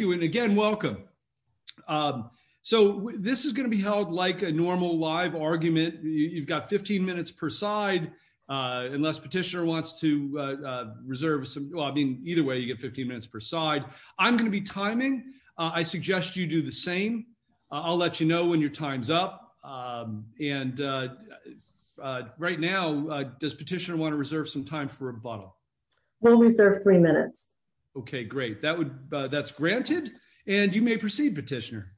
Thank you and again welcome. So, this is going to be held like a normal live argument, you've got 15 minutes per side. Unless petitioner wants to reserve some, I mean, either way you get 15 minutes per side. I'm going to be timing, I suggest you do the same. I'll let you know when your time's up. And right now, does petitioner want to reserve some time for a bottle. We'll reserve three minutes. Okay, great. That would, that's granted, and you may proceed petitioner.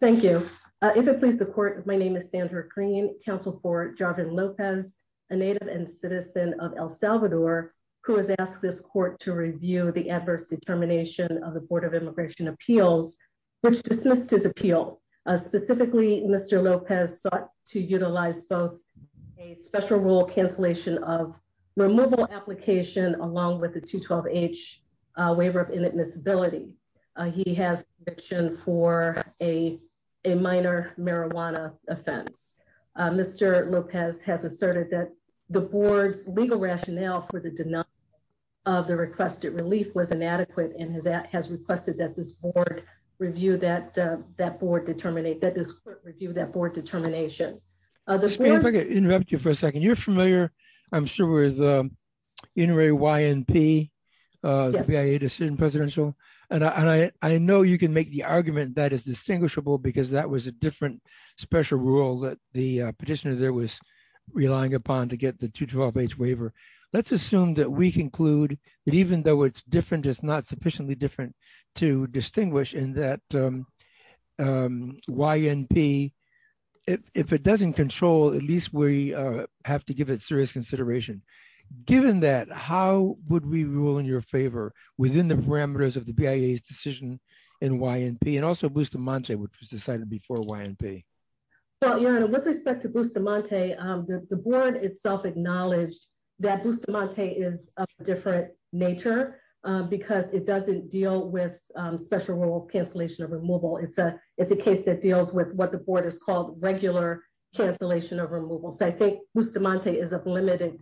Thank you. If it please the court. My name is Sandra green Council for Jarvin Lopez, a native and citizen of El Salvador, who has asked this along with the 212 age waiver of inadmissibility. He has fiction for a, a minor marijuana offense. Mr. Lopez has asserted that the board's legal rationale for the denial of the requested relief was inadequate and has that has requested that this board review that that board determinate that this review that board determination. Okay, for a second you're familiar. I'm sure we're the inner a YMP presidential, and I know you can make the argument that is distinguishable because that was a different special rule that the petitioner there was relying upon to get the 212 age waiver. Let's assume that we conclude that even though it's different it's not sufficiently different to distinguish in that YMP. If it doesn't control at least we have to give it serious consideration. Given that, how would we rule in your favor within the parameters of the VA decision in YMP and also boost the mantra which was decided before YMP. Well, with respect to boost the mantra. The board itself acknowledged that boost the mantra is different nature, because it doesn't deal with special rule cancellation of removal it's a it's a case that deals with what the board is called regular cancellation of removal so I think Mr Monte is a limited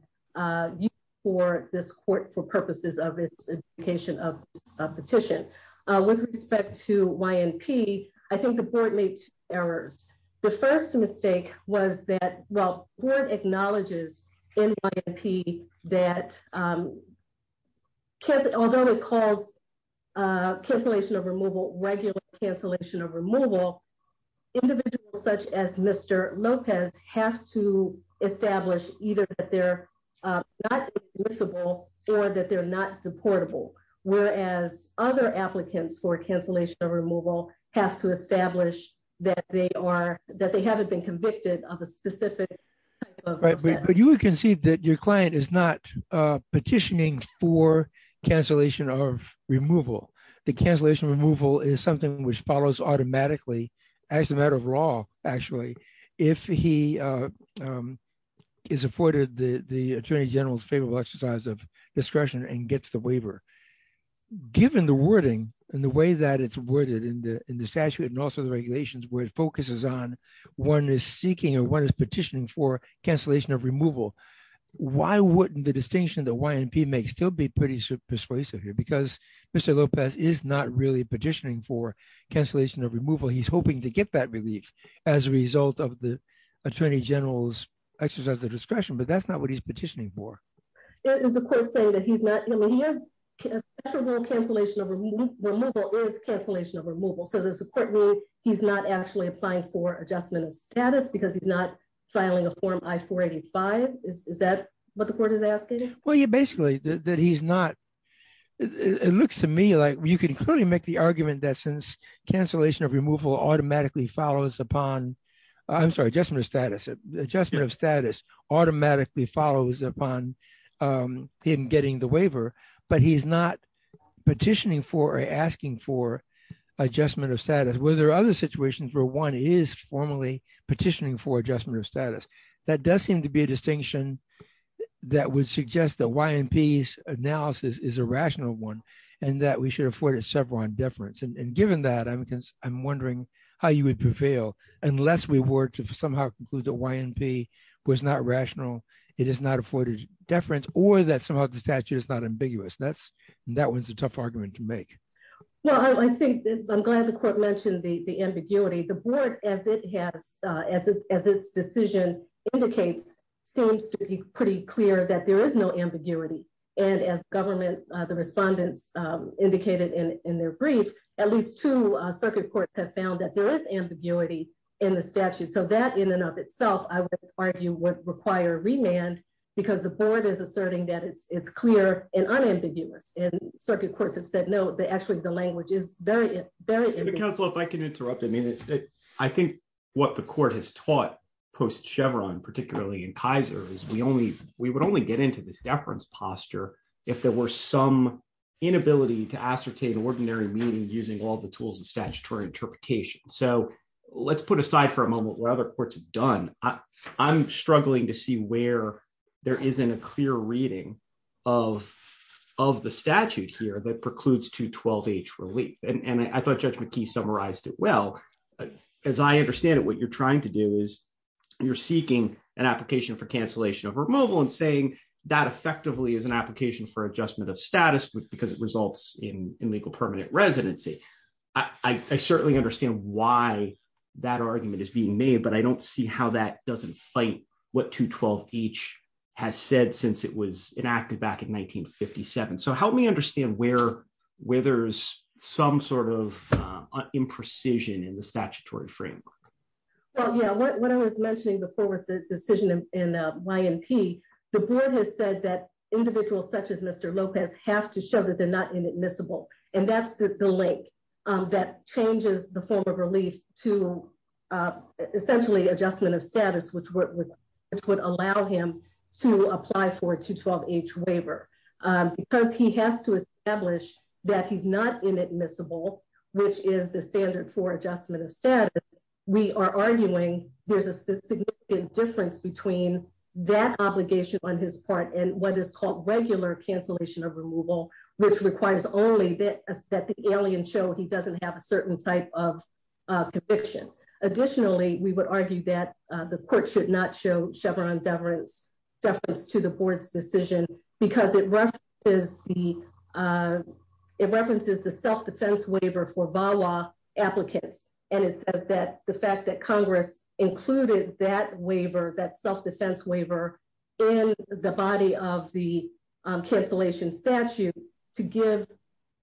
for this court for purposes of its education of petition with respect to YMP, I think the board made errors. The first mistake was that, well, what acknowledges in YMP that although it calls cancellation of removal regular cancellation of removal, individuals such as Mr. Lopez have to establish either that they're not admissible or that they're not deportable, whereas other applicants for cancellation of removal have to establish that they are that they haven't been convicted of a specific. But you can see that your client is not petitioning for cancellation of removal, the cancellation removal is something which follows automatically as a matter of law, actually, if he is afforded the Attorney General's favorable exercise of discretion and gets the waiver. Given the wording, and the way that it's worded in the in the statute and also the regulations where it focuses on one is seeking or what is petitioning for cancellation of removal. Why wouldn't the distinction that YMP make still be pretty persuasive here because Mr. Lopez is not really petitioning for cancellation of removal he's hoping to get that relief as a result of the Attorney General's exercise the discretion but that's not what he's petitioning for. Is the court saying that he's not, I mean he has a special rule cancellation of removal is cancellation of removal so there's a court rule, he's not actually applying for adjustment of status because he's not filing a form I 485, is that what the court is asking. Well you basically that he's not. It looks to me like you can clearly make the argument that since cancellation of removal automatically follows upon. I'm sorry just my status adjustment of status automatically follows upon him getting the waiver, but he's not petitioning for asking for adjustment of status whether other situations where one is formally petitioning for adjustment of status. That does seem to be a distinction. That would suggest that YMP analysis is a rational one, and that we should afford it several on difference and given that I'm because I'm wondering how you would prevail, unless we were to somehow conclude the YMP was not rational. It is not afforded deference or that somehow the statute is not ambiguous that's that was a tough argument to make. Well, I think I'm glad the court mentioned the ambiguity the board, as it has, as it, as its decision indicates seems to be pretty clear that there is no ambiguity, and as government. As the respondents indicated in their brief, at least two circuit courts have found that there is ambiguity in the statute so that in and of itself, I would argue would require remand, because the board is asserting that it's it's clear and unambiguous and circuit courts have said no, they actually the language is very, very, if I can interrupt I mean, I think what the court has taught post Chevron particularly in Kaiser is we only, we would only get into this deference posture. If there were some inability to ascertain ordinary meaning using all the tools and statutory interpretation so let's put aside for a moment where other courts have done, I'm struggling to see where there isn't a clear reading of of the statute here that precludes to 12 age relief, and I thought judgment key summarized it well, as I understand it what you're trying to do is you're seeking an application for cancellation of removal and saying that effectively as an application for adjustment of status with because it results in legal permanent residency. I certainly understand why that argument is being made but I don't see how that doesn't fight what to 12 each has said since it was enacted back in 1957 so help me understand where withers, some sort of imprecision in the statutory framework. Yeah, what I was mentioning before with the decision in my MP, the board has said that individuals such as Mr. Lopez have to show that they're not inadmissible, and that's the link that changes the form of relief to essentially adjustment of status which would allow him to apply for to 12 age waiver, because he has to establish that he's not inadmissible, which is the standard for adjustment of status, we are arguing, there's a significant difference between that obligation on his part and what should not show Chevron deference deference to the board's decision, because it is the references the self defense waiver for VA law applicants, and it says that the fact that Congress included that waiver that self defense waiver in the body of the cancellation statute to give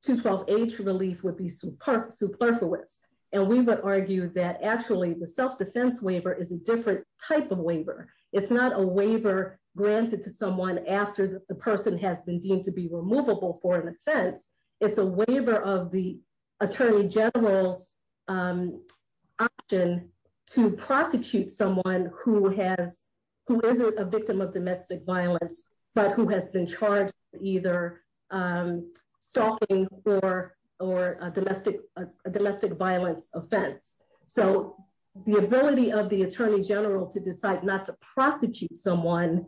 to 12 age relief would be superb superfluous, and we would argue that actually the self defense waiver is a different type of waiver. It's not a waiver granted to someone after the person has been deemed to be removable for an offense. It's a waiver of the Attorney General's option to prosecute someone who has who isn't a victim of domestic violence, but who has been charged either stalking for or domestic domestic violence offense. So, the ability of the Attorney General to decide not to prosecute someone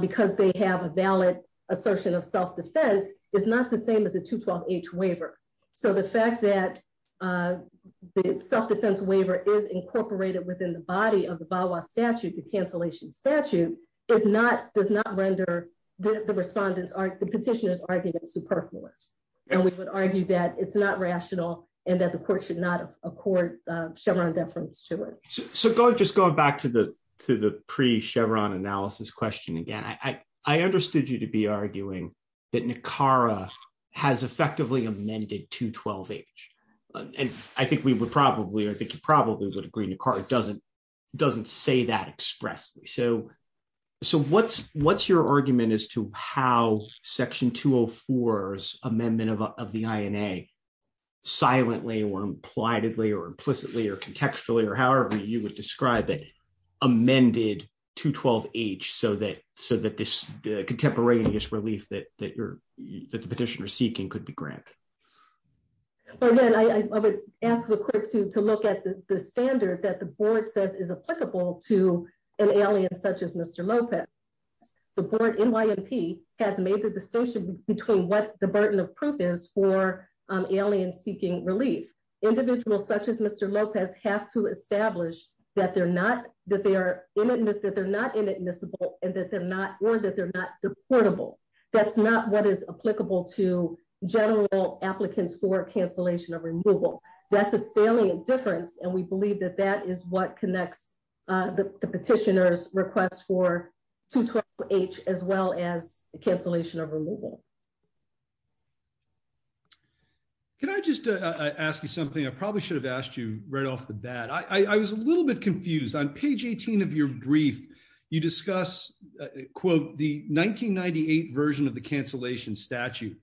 because they have a valid assertion of self defense is not the same as a to 12 age waiver. So the fact that the self defense waiver is incorporated within the body of the Bible statute the cancellation statute is not does not render the respondents are the petitioners are superfluous, and we would argue that it's not rational, and that the court should not have a court Chevron deference to it. So go just going back to the, to the pre Chevron analysis question again I, I understood you to be arguing that Nicara has effectively amended to 12 age. And I think we would probably I think you probably would agree Nicara doesn't doesn't say that expressly so. So, so what's, what's your argument as to how section 204 amendment of the INA silently or impliedly or implicitly or contextually or however you would describe it amended to 12 age so that so that this contemporaneous relief that that you're that the petitioner seeking could be granted. Again, I would ask the court to to look at the standard that the board says is applicable to an alien such as Mr. Lopez, the board in ymp has made the distinction between what the burden of proof is for alien seeking relief individuals such as Mr. applicants for cancellation of removal. That's a salient difference and we believe that that is what connects the petitioners request for to age, as well as the cancellation of removal. Can I just ask you something I probably should have asked you right off the bat I was a little bit confused on page 18 of your brief, you discuss quote the 1998 version of the cancellation statute.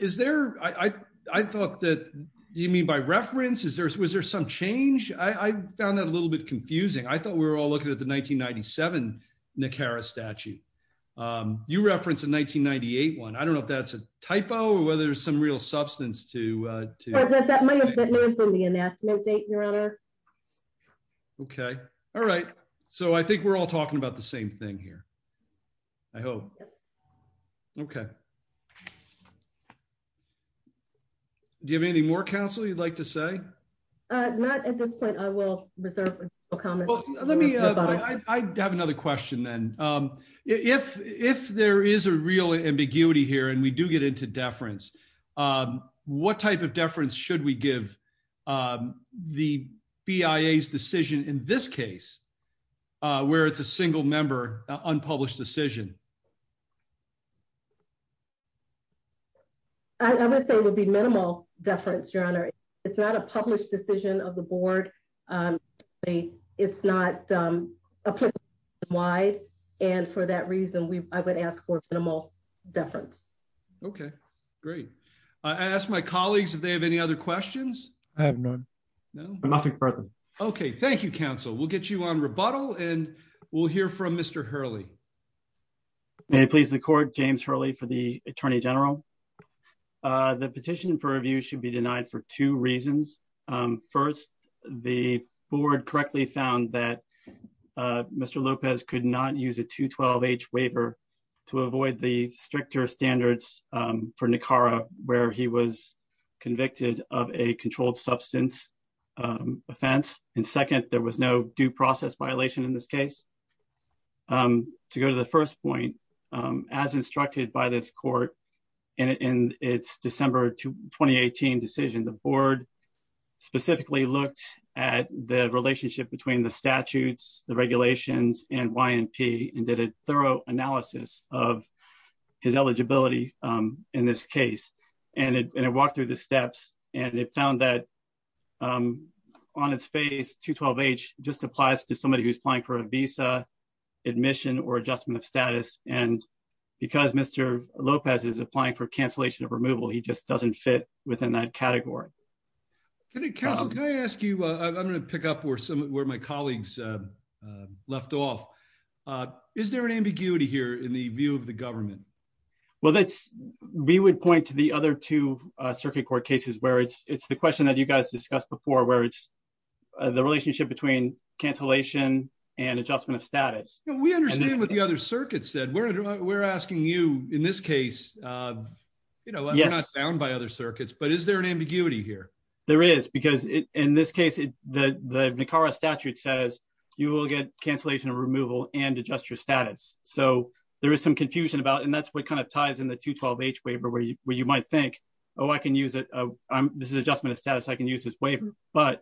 Is there, I thought that you mean by reference is there's was there some change, I found that a little bit confusing I thought we were all looking at the 1997 Nicara statute. You reference in 1998 one I don't know if that's a typo or whether there's some real substance to, to that might have been from the national date your honor. Okay. All right. So I think we're all talking about the same thing here. I hope. Yes. Okay. Do you have any more counsel you'd like to say, not at this point I will reserve comments. I have another question then. If, if there is a real ambiguity here and we do get into deference. What type of deference should we give the bias decision in this case, where it's a single member unpublished decision. I would say would be minimal deference your honor. It's not a published decision of the board. It's not. Why, and for that reason we, I would ask for minimal deference. Okay, great. I asked my colleagues if they have any other questions. I have none. No, nothing further. Okay, thank you counsel will get you on rebuttal and we'll hear from Mr Hurley. Please the court James Hurley for the Attorney General. The petition for review should be denied for two reasons. First, the board correctly found that Mr Lopez could not use a 212 H waiver to avoid the stricter standards for Nicara, where he was convicted of a controlled substance offense. And second, there was no due process violation in this case. To go to the first point, as instructed by this court, and it's December to 2018 decision the board specifically looked at the relationship between the statutes, the regulations and YMP and did a thorough analysis of his eligibility. In this case, and it walked through the steps, and it found that on its face to 12 age, just applies to somebody who's applying for a visa admission or adjustment of status, and because Mr. Lopez is applying for cancellation of removal he just doesn't fit within that category. Can I ask you, I'm going to pick up where some of where my colleagues left off. Is there an ambiguity here in the view of the government. Well that's, we would point to the other two circuit court cases where it's it's the question that you guys discussed before where it's the relationship between cancellation and adjustment of status, we understand what the other circuit said we're, we're asking you, in this So, there is some confusion about and that's what kind of ties in the to 12 age waiver where you where you might think, Oh, I can use it. This is adjustment of status I can use this waiver, but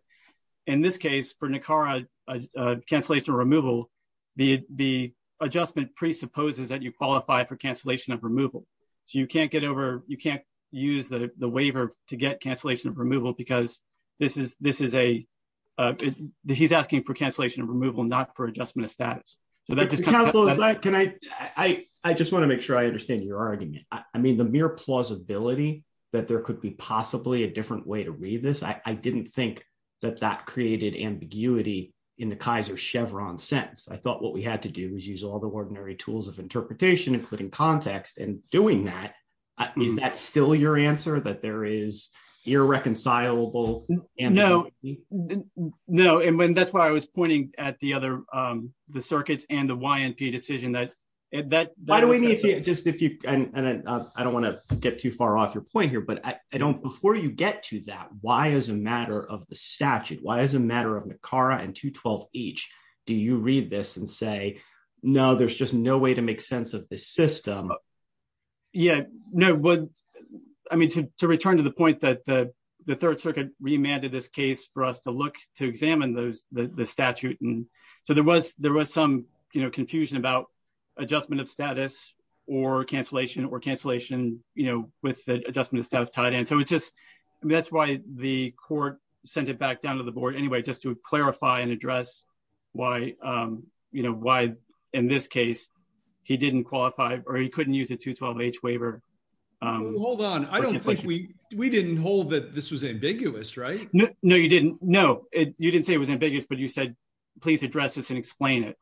in this case for Nicara cancellation removal. The, the adjustment presupposes that you qualify for cancellation of removal. So you can't get over, you can't use the waiver to get cancellation of removal because this is this is a. He's asking for cancellation of removal not for adjustment of status. So that just can I, I just want to make sure I understand your argument, I mean the mere plausibility that there could be possibly a different way to read this I didn't think that that is that still your answer that there is irreconcilable, and no, no, and when that's why I was pointing at the other. The circuits and the y&p decision that that, why do we need to just if you, and I don't want to get too far off your point here but I don't before you get to that why as a matter of the statute why as a matter of Nicara and to 12, each. Do you read this and say, No, there's just no way to make sense of the system. Yeah, no. I mean to return to the point that the Third Circuit remanded this case for us to look to examine those the statute and so there was there was some, you know, confusion about adjustment of status or cancellation or cancellation, you know, with the adjustment So it's just, that's why the court sent it back down to the board anyway just to clarify and address why you know why, in this case, he didn't qualify, or he couldn't use it to 12 age waiver. Hold on, I don't think we, we didn't hold that this was ambiguous right no you didn't know it, you didn't say it was ambiguous but you said, please address this and explain it.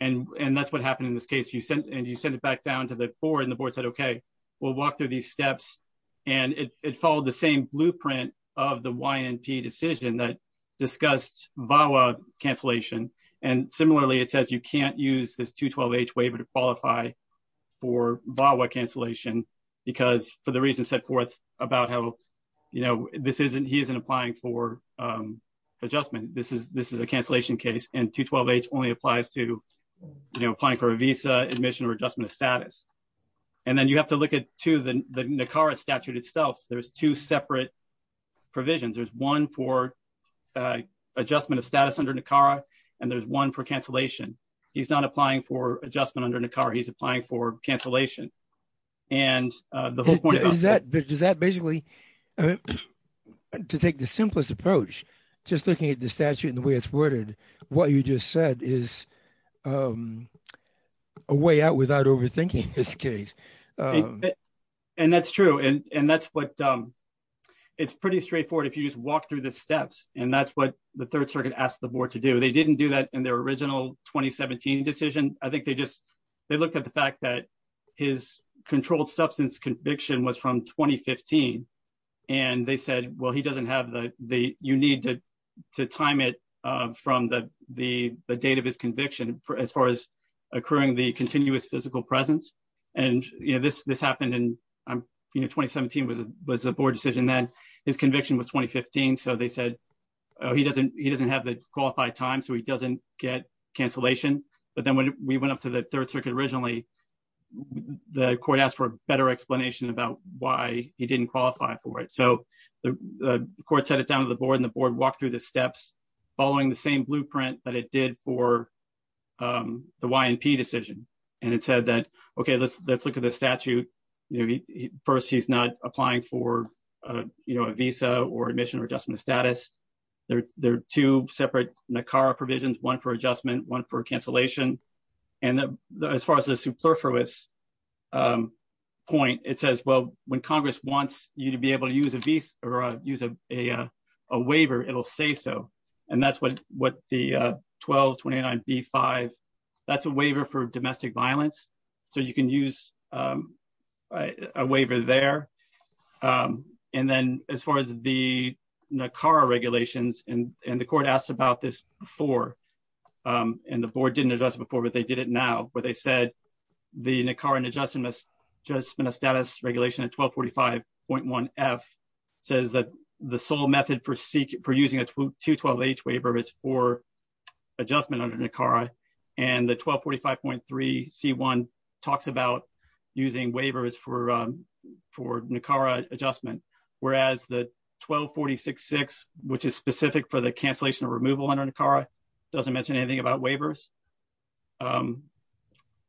And, and that's what happened in this case you sent and you send it back down to the board and the board said okay, we'll walk through these steps, and it followed the same blueprint of the y&p decision that discussed VAWA cancellation. And similarly it says you can't use this to 12 age waiver to qualify for VAWA cancellation, because for the reason set forth about how you know this isn't he isn't applying for adjustment, this is this is a cancellation case and to 12 age only applies to applying for a visa admission or adjustment of status. And then you have to look at to the car statute itself, there's two separate provisions there's one for adjustment of status under the car. And there's one for cancellation. He's not applying for adjustment under the car he's applying for cancellation. And the whole point is that does that basically to take the simplest approach, just looking at the statute and the way it's worded, what you just said is a way out without overthinking this case. And that's true. And that's what it's pretty straightforward if you just walk through the steps, and that's what the Third Circuit asked the board to do they didn't do that in their original 2017 decision, I think they just, they looked at the fact that his controlled substance conviction was from 2015. And they said, well he doesn't have the, the, you need to time it from the, the, the date of his conviction for as far as occurring the continuous physical presence. And, you know, this, this happened in 2017 was a was a board decision that his conviction was 2015 so they said, he doesn't, he doesn't have the qualified time so he doesn't get cancellation. But then when we went up to the Third Circuit originally, the court asked for a better explanation about why he didn't qualify for it so the court set it down to the board and the board walk through the steps, following the same blueprint that it did for the YMP decision, and it said that, okay, let's let's look at the statute. First, he's not applying for, you know, a visa or admission or adjustment status. There are two separate NACARA provisions one for adjustment one for cancellation. And as far as the superfluous point, it says, well, when Congress wants you to be able to use a visa or use a waiver it'll say so. And that's what what the 1229 b five. That's a waiver for domestic violence. So you can use a waiver there. And then, as far as the NACARA regulations and the court asked about this before. And the board didn't address before but they did it now, but they said the NACARA adjustment status regulation at 1245.1 F says that the sole method for seeking for using a 212 H waiver is for adjustment under NACARA and the 1245.3 c one talks about using a waiver is for for NACARA adjustment, whereas the 1246 six, which is specific for the cancellation of removal under NACARA doesn't mention anything about waivers.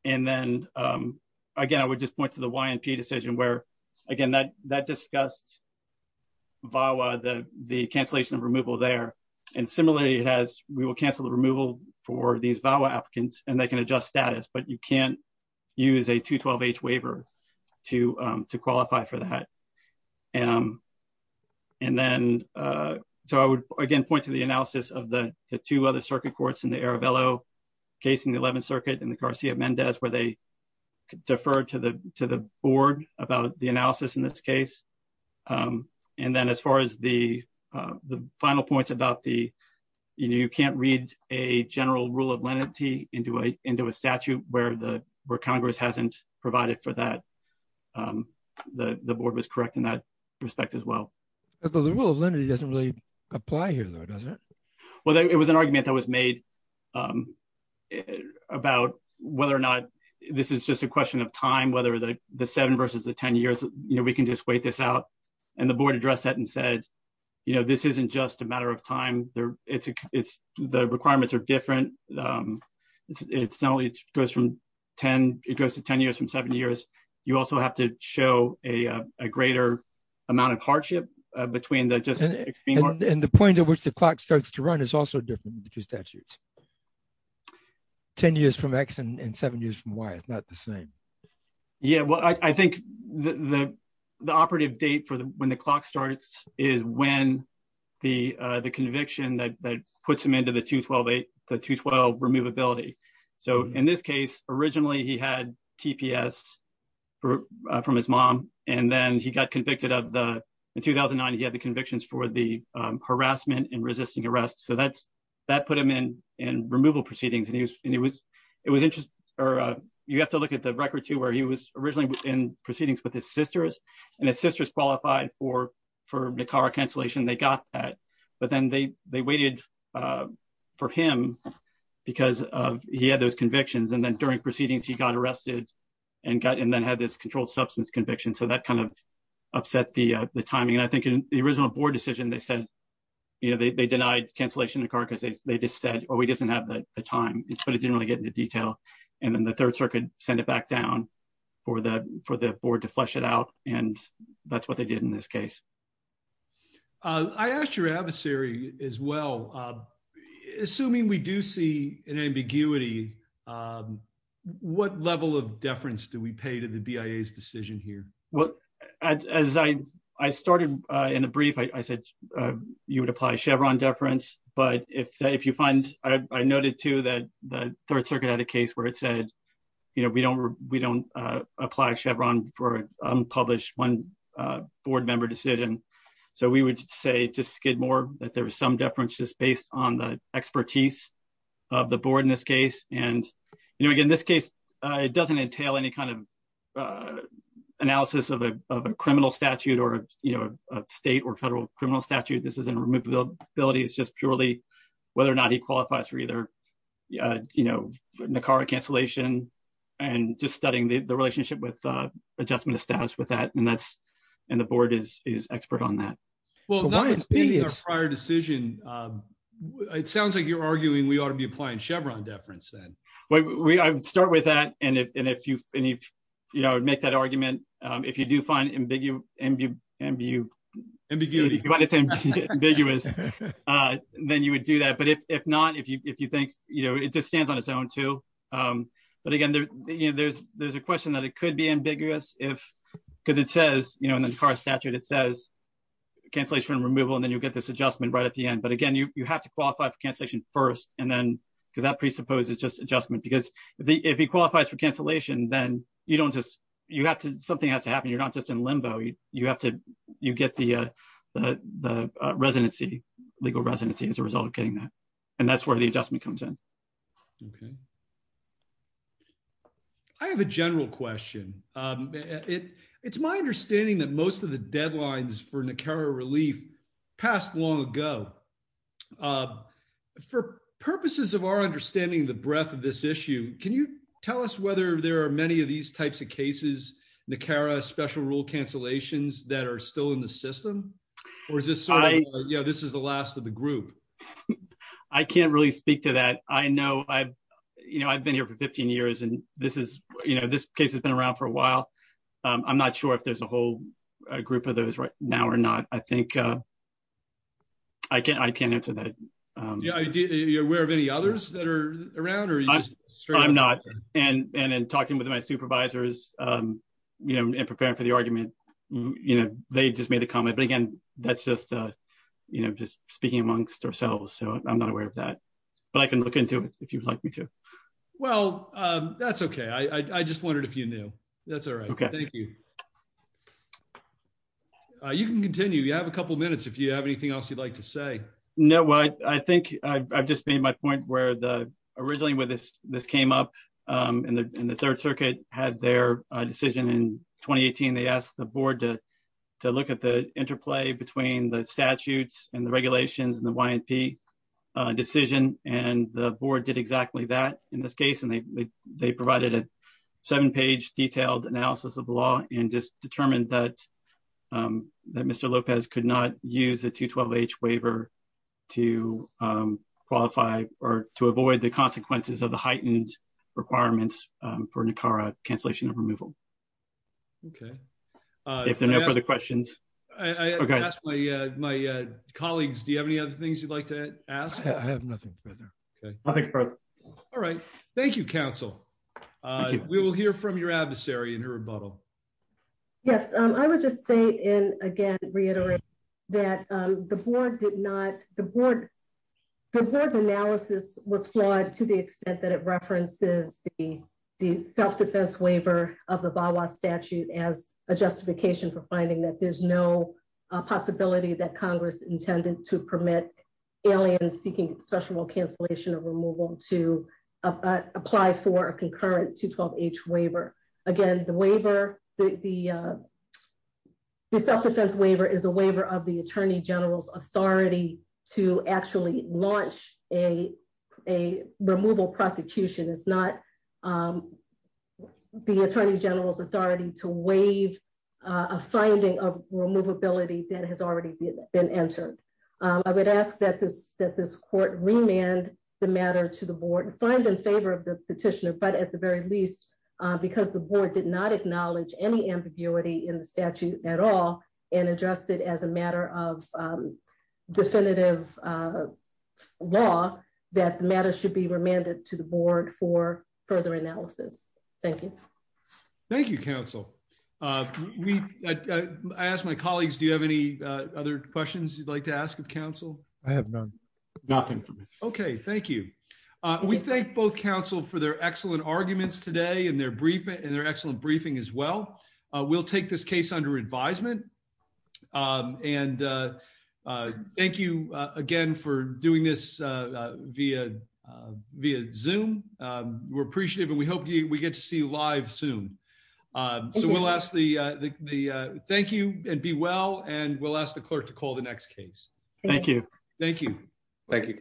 And then, again, I would just point to the YMP decision where, again, that that discussed VAWA the the cancellation of removal there. And similarly, it has, we will cancel the removal for these VAWA applicants and they can adjust status but you can't use a 212 H waiver to to qualify for that. And then, so I would again point to the analysis of the two other circuit courts in the Arabello case in the 11th Circuit and the Garcia Mendez where they defer to the to the board about the analysis in this case. And then as far as the final points about the you can't read a general rule of lenity into a into a statute where the where Congress hasn't provided for that. The board was correct in that respect as well. The rule of lenity doesn't really apply here, though, does it? Well, it was an argument that was made about whether or not this is just a question of time, whether the seven versus the 10 years, you know, we can just wait this out. And the board addressed that and said, you know, this isn't just a matter of time there. It's it's the requirements are different. It's not only it goes from 10, it goes to 10 years from seven years. You also have to show a greater amount of hardship between the just. And the point at which the clock starts to run is also different between statutes. 10 years from X and seven years from Y is not the same. Yeah, well, I think the the the operative date for when the clock starts is when the the conviction that puts him into the two twelve eight to twelve removability. So in this case, originally he had TPS from his mom and then he got convicted of the 2009. He had the convictions for the harassment and resisting arrest. So that's that put him in and removal proceedings. And he was it was interesting. You have to look at the record, too, where he was originally in proceedings with his sisters and his sisters qualified for for the car cancellation. They got that. But then they they waited for him because he had those convictions. And then during proceedings, he got arrested and got and then had this controlled substance conviction. So that kind of upset the timing. And I think the original board decision they said, you know, they denied cancellation of the car because they just said, oh, he doesn't have the time. But it didn't really get into detail. And then the Third Circuit sent it back down for the for the board to flush it out. And that's what they did in this case. I asked your adversary as well. Assuming we do see an ambiguity, what level of deference do we pay to the BIA's decision here? Well, as I I started in the brief, I said you would apply Chevron deference. But if if you find I noted, too, that the Third Circuit had a case where it said, you know, we don't we don't apply Chevron for unpublished one board member decision. So we would say to Skidmore that there was some deference just based on the expertise of the board in this case. And, you know, in this case, it doesn't entail any kind of analysis of a criminal statute or, you know, a state or federal criminal statute. This isn't removability. It's just purely whether or not he qualifies for either, you know, the car cancellation and just studying the relationship with adjustment of status with that. And that's and the board is expert on that. Well, that was our prior decision. It sounds like you're arguing we ought to be applying Chevron deference then. We start with that. And if you make that argument, if you do find ambiguous, ambiguous, ambiguous, ambiguous, then you would do that. But if not, if you if you think, you know, it just stands on its own, too. But again, there's there's a question that it could be ambiguous if because it says, you know, in the car statute, it says cancellation removal and then you get this adjustment right at the end. But again, you have to qualify for cancellation first. And then because that presupposes just adjustment, because if he qualifies for cancellation, then you don't just you have to something has to happen. You're not just in limbo. You have to you get the residency, legal residency as a result of getting that. And that's where the adjustment comes in. OK. I have a general question. It's my understanding that most of the deadlines for Nicaragua relief passed long ago. For purposes of our understanding the breadth of this issue, can you tell us whether there are many of these types of cases, Nicaragua special rule cancellations that are still in the system, or is this, you know, this is the last of the group. I can't really speak to that. I know I've you know, I've been here for 15 years and this is you know, this case has been around for a while. I'm not sure if there's a whole group of those right now or not. I think. I can't I can't answer that. Are you aware of any others that are around or. I'm not. And, and then talking with my supervisors, you know, and preparing for the argument. You know, they just made a comment but again, that's just, you know, just speaking amongst ourselves so I'm not aware of that. But I can look into it, if you'd like me to. Well, that's okay I just wondered if you knew. That's all right. Okay, thank you. You can continue you have a couple minutes if you have anything else you'd like to say. No, I think I've just made my point where the originally with this, this came up in the third circuit had their decision in 2018 they asked the board to, to look at a seven page detailed analysis of the law, and just determined that that Mr. Lopez could not use the to 12 age waiver to qualify, or to avoid the consequences of the heightened requirements for Nicara cancellation of removal. Okay. If there are no further questions. Okay, my, my colleagues Do you have any other things you'd like to ask I have nothing further. Okay. All right. Thank you, counsel. We will hear from your adversary and her rebuttal. Yes, I would just say, and again reiterate that the board did not the board. The analysis was flawed to the extent that it references the, the self defense waiver of the Bible statute as a justification for finding that there's no possibility that Congress intended to permit aliens seeking special cancellation of removal to apply for a concurrent to 12 age waiver. Again, the waiver, the self defense waiver is a waiver of the Attorney General's authority to actually launch a, a removal prosecution is not the Attorney General's authority to waive a finding of removability that has already been entered. I would ask that this that this court remand the matter to the board and find in favor of the petitioner but at the very least, because the board did not acknowledge any ambiguity in the statute at all, and address it as a matter of definitive law that matter should be remanded to the board for further analysis. Thank you. Thank you, counsel. We asked my colleagues, do you have any other questions you'd like to ask of counsel, I have none. Nothing. Okay, thank you. We thank both counsel for their excellent arguments today and their briefing and their excellent briefing as well. We'll take this case under advisement. And thank you again for doing this via via zoom. We're appreciative and we hope you we get to see live soon. So we'll ask the, the, thank you, and be well and we'll ask the clerk to call the next case. Thank you. Thank you. Thank you.